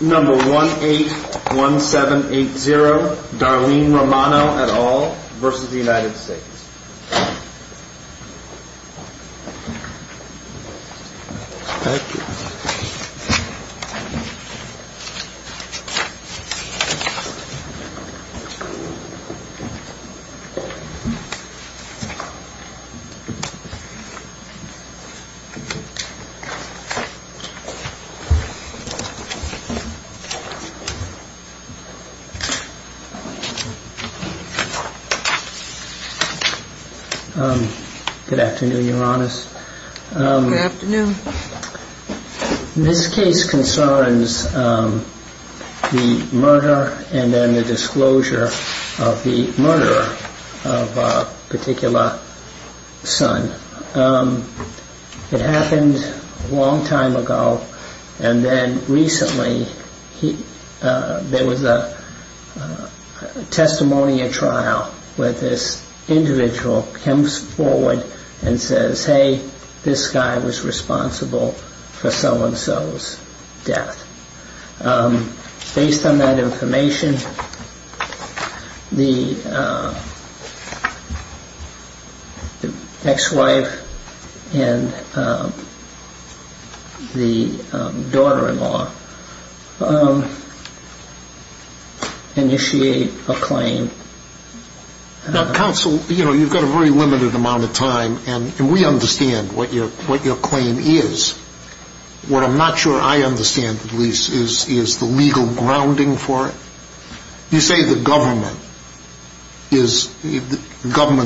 181780 Darlene Romano et al. v. United States Good afternoon, Your Honor. Good afternoon. This case concerns the murder and then the recently there was a testimony at trial where this individual comes forward and says hey this guy was responsible for so-and-so's death. Based on that information the ex-wife and the daughter-in-law initiate a claim. Counsel, you've got a very limited amount of time and we understand what your claim is. What I'm not sure I understand is the legal grounding for it. You say the government,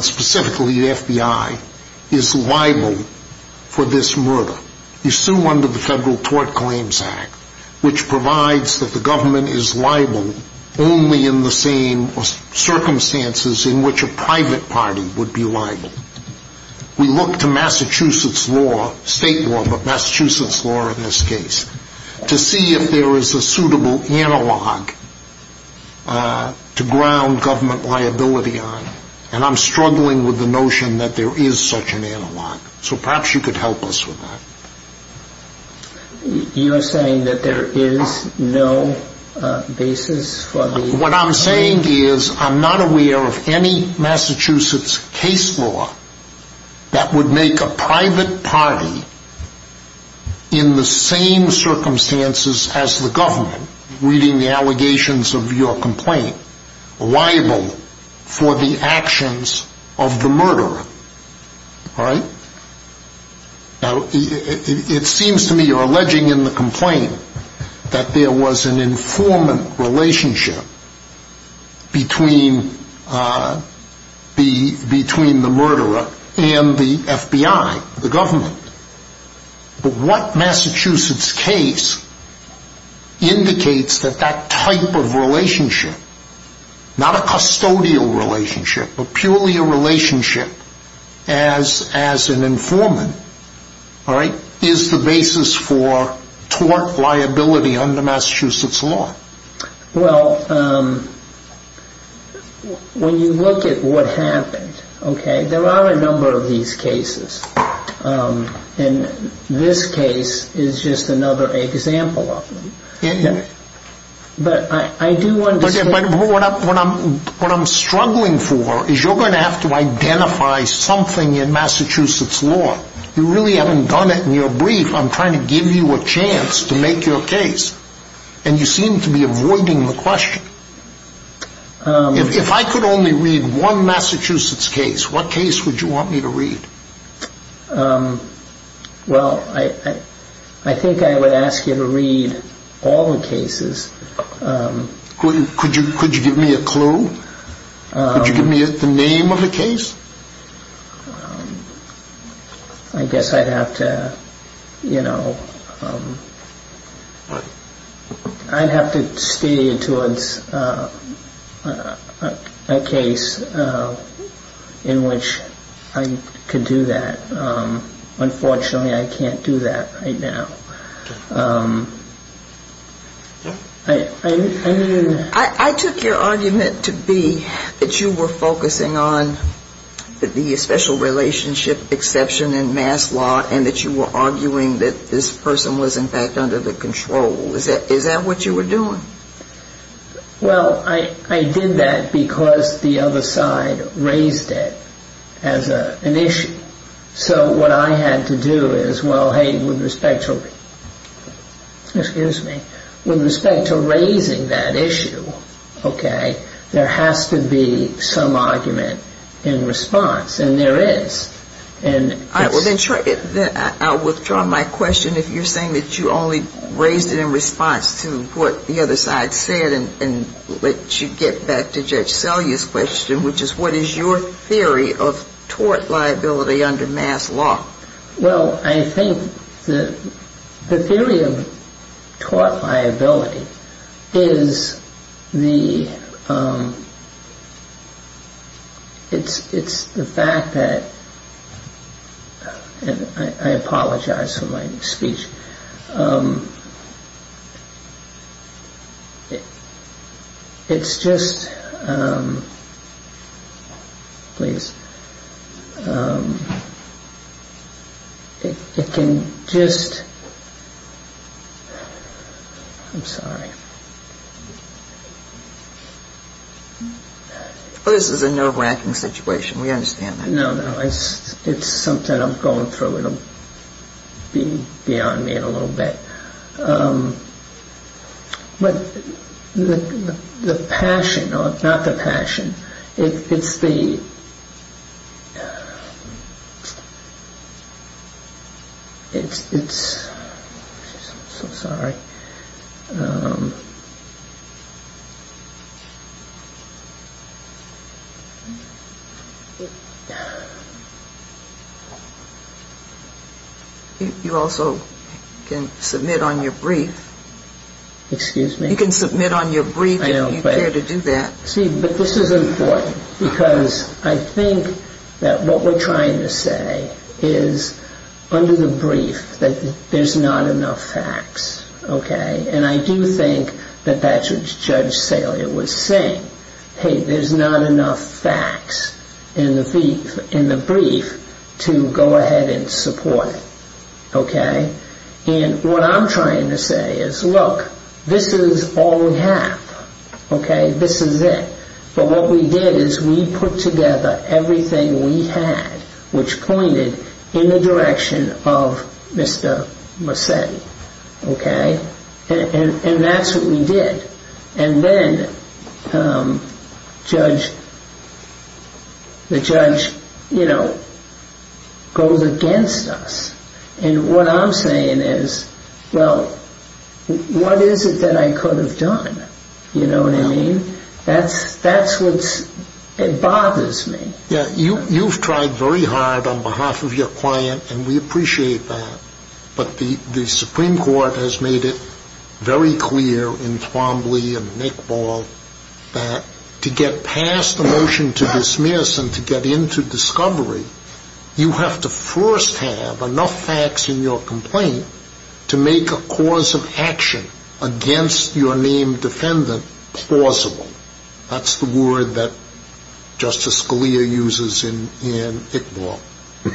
specifically the FBI, is liable for this murder. You sue under the Federal Tort Claims Act, which provides that the government is liable only in the same circumstances in which a private party would be liable. We look to Massachusetts law, state law, but Massachusetts law in this case, to see if there is a suitable analog to ground government liability on. And I'm struggling with the notion that there is such an analog. So perhaps you could help us with that. You're saying that there is no basis for the... What I'm saying is I'm not aware of any Massachusetts case law that would make a private party in the same circumstances as the government, reading the allegations of your complaint, liable for the actions of the murderer. It seems to me you're alleging in the complaint that there was an informant relationship between the murderer and the FBI, the government. But what Massachusetts case indicates that that type of relationship, not a custodial relationship, but purely a relationship as an informant, is the basis for tort liability under Massachusetts law. Well, when you look at what happened, okay, there are a number of these cases. And this case is just another example of them. But I do understand... What I'm struggling for is you're going to have to identify something in Massachusetts law. You really haven't done it in your brief. I'm trying to give you a chance to make your case. And you seem to be avoiding the question. If I could only read one Massachusetts case, what case would you want me to read? Well, I think I would ask you to read all the cases. Could you give me a clue? Could you give me the name of the case? I guess I'd have to, you know, I'd have to steer you towards a case in which I could do that. Unfortunately, I can't do that right now. I took your argument to be that you were focusing on the special relationship exception in Mass law and that you were arguing that this person was in fact under the control. Is that what you were doing? Well, I did that because the other side raised it as an issue. So what I had to do is, well, hey, with respect to raising that issue, okay, there has to be some argument in response. And there is. All right. Well, then I'll withdraw my question if you're saying that you only raised it in response to what the other side said and let you get back to Judge Selye's question, which is what is your theory of tort liability under Mass law? Well, I think the theory of tort liability is the, it's the fact that, and I apologize for my speech. It's just, please, it can just, I'm sorry. Well, this is a nerve wracking situation. We understand that. No, no. It's something I'm going through. It'll be on me in a little bit. But the passion, not the passion, it's the, it's, I'm so sorry. You also can submit on your brief. Excuse me? You can submit on your brief if you care to do that. See, but this is important because I think that what we're trying to say is under the brief that there's not enough facts. Okay. And I do think that that's what Judge Selye was saying. Hey, there's not enough facts in the brief to go ahead and support. Okay. And what I'm trying to say is, look, this is all we have. Okay. This is it. But what we did is we put together everything we had, which pointed in the direction of Mr. Mercetti. Okay. And that's what we did. And then Judge, the judge, you know, goes against us. And what I'm saying is, well, what is it that I could have done? You know what I mean? That's, that's what's, it bothers me. Yeah. You, you've tried very hard on behalf of your client and we appreciate that. But the, the Supreme Court has made it very clear in Twombly and Nick Ball that to get past the motion to dismiss and to get into discovery, you have to first have enough facts in your complaint to make a cause of action against your named defendant plausible. That's the word that Justice Scalia uses in, in Nick Ball,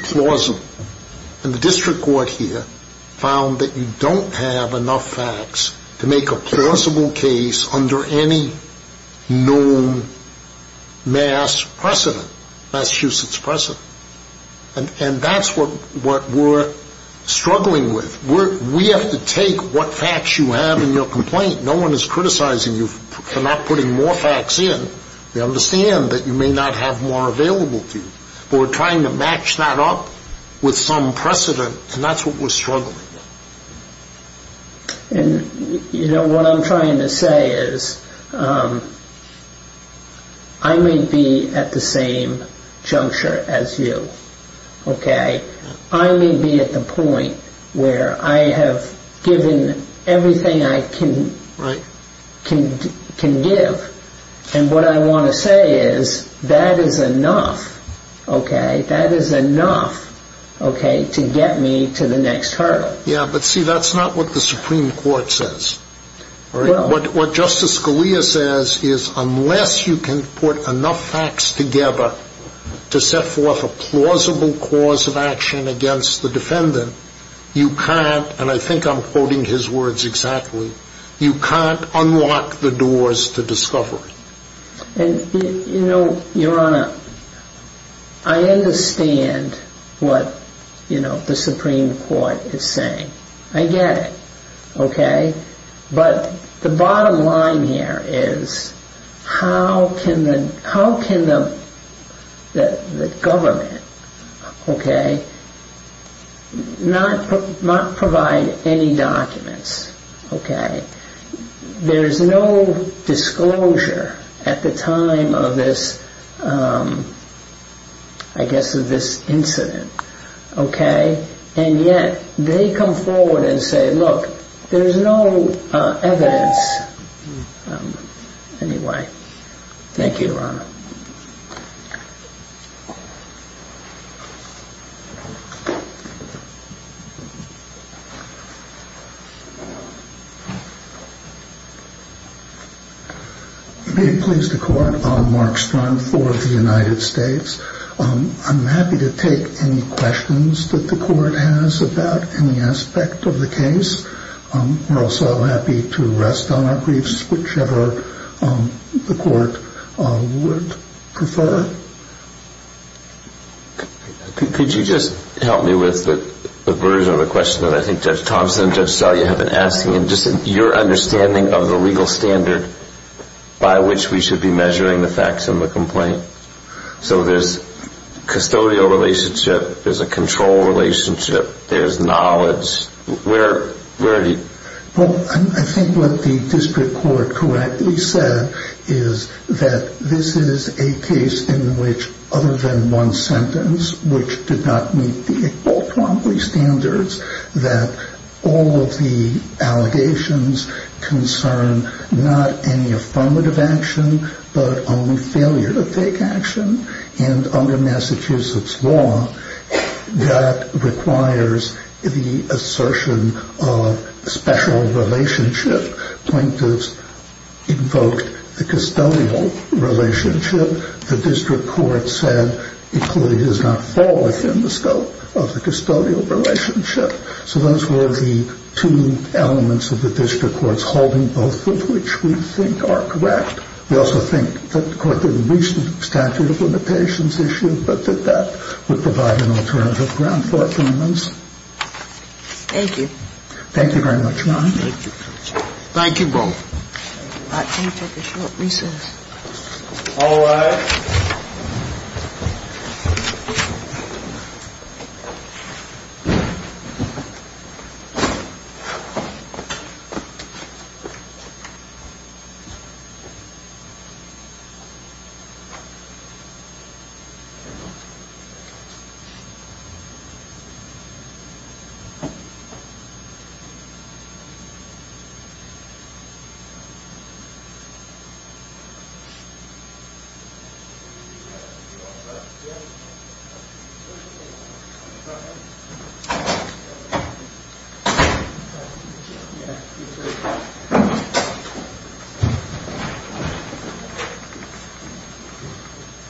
plausible. And the district court here found that you don't have enough facts to make a plausible case under any known mass precedent, Massachusetts precedent. And that's what, what we're struggling with. We're, we have to take what facts you have in your complaint. No one is criticizing you for not putting more facts in. We understand that you may not have more available to you. But we're trying to match that up with some precedent and that's what we're struggling with. And, you know, what I'm trying to say is I may be at the same juncture as you. Okay. I may be at the point where I have given everything I can, can, can give. And what I want to say is that is enough. Okay. That is enough. Okay. To get me to the next hurdle. Yeah. But see, that's not what the Supreme Court says. What Justice Scalia says is unless you can put enough facts together to set forth a plausible cause of action against the defendant, you can't, and I think I'm quoting his words exactly. You can't unlock the doors to discovery. And, you know, Your Honor, I understand what, you know, the Supreme Court is saying. I get it. Okay. But the bottom line here is how can the, how can the government, okay, not, not provide any documents. Okay. There's no disclosure at the time of this, I guess of this incident. Okay. And yet they come forward and say, look, there's no evidence. Anyway. Thank you, Your Honor. I'm happy to take any questions that the court has about any aspect of the case. We're also happy to rest on our griefs, whichever the court would prefer. Could you just help me with the version of the question that I think Judge Thompson and Judge Scalia have been asking and just your understanding of the legal standard by which we should be measuring the facts in the complaint? So there's custodial relationship, there's a control relationship, there's knowledge. Where, where do you? Well, I think what the district court correctly said is that this is a case in which other than one sentence, which did not meet the equality standards, that all of the allegations concern, not any affirmative action, but only failure to take action. And under Massachusetts law, that requires the assertion of special relationship. Plaintiffs invoked the custodial relationship. The district court said it clearly does not fall within the scope of the custodial relationship. So those were the two elements of the district court's holding, both of which we think are correct. We also think that the court didn't reach the statute of limitations issue, but that that would provide an alternative ground for arguments. Thank you. Thank you very much, Your Honor. Thank you, Judge. Thank you both. All right. Can we take a short recess? All rise. Thank you, Your Honor.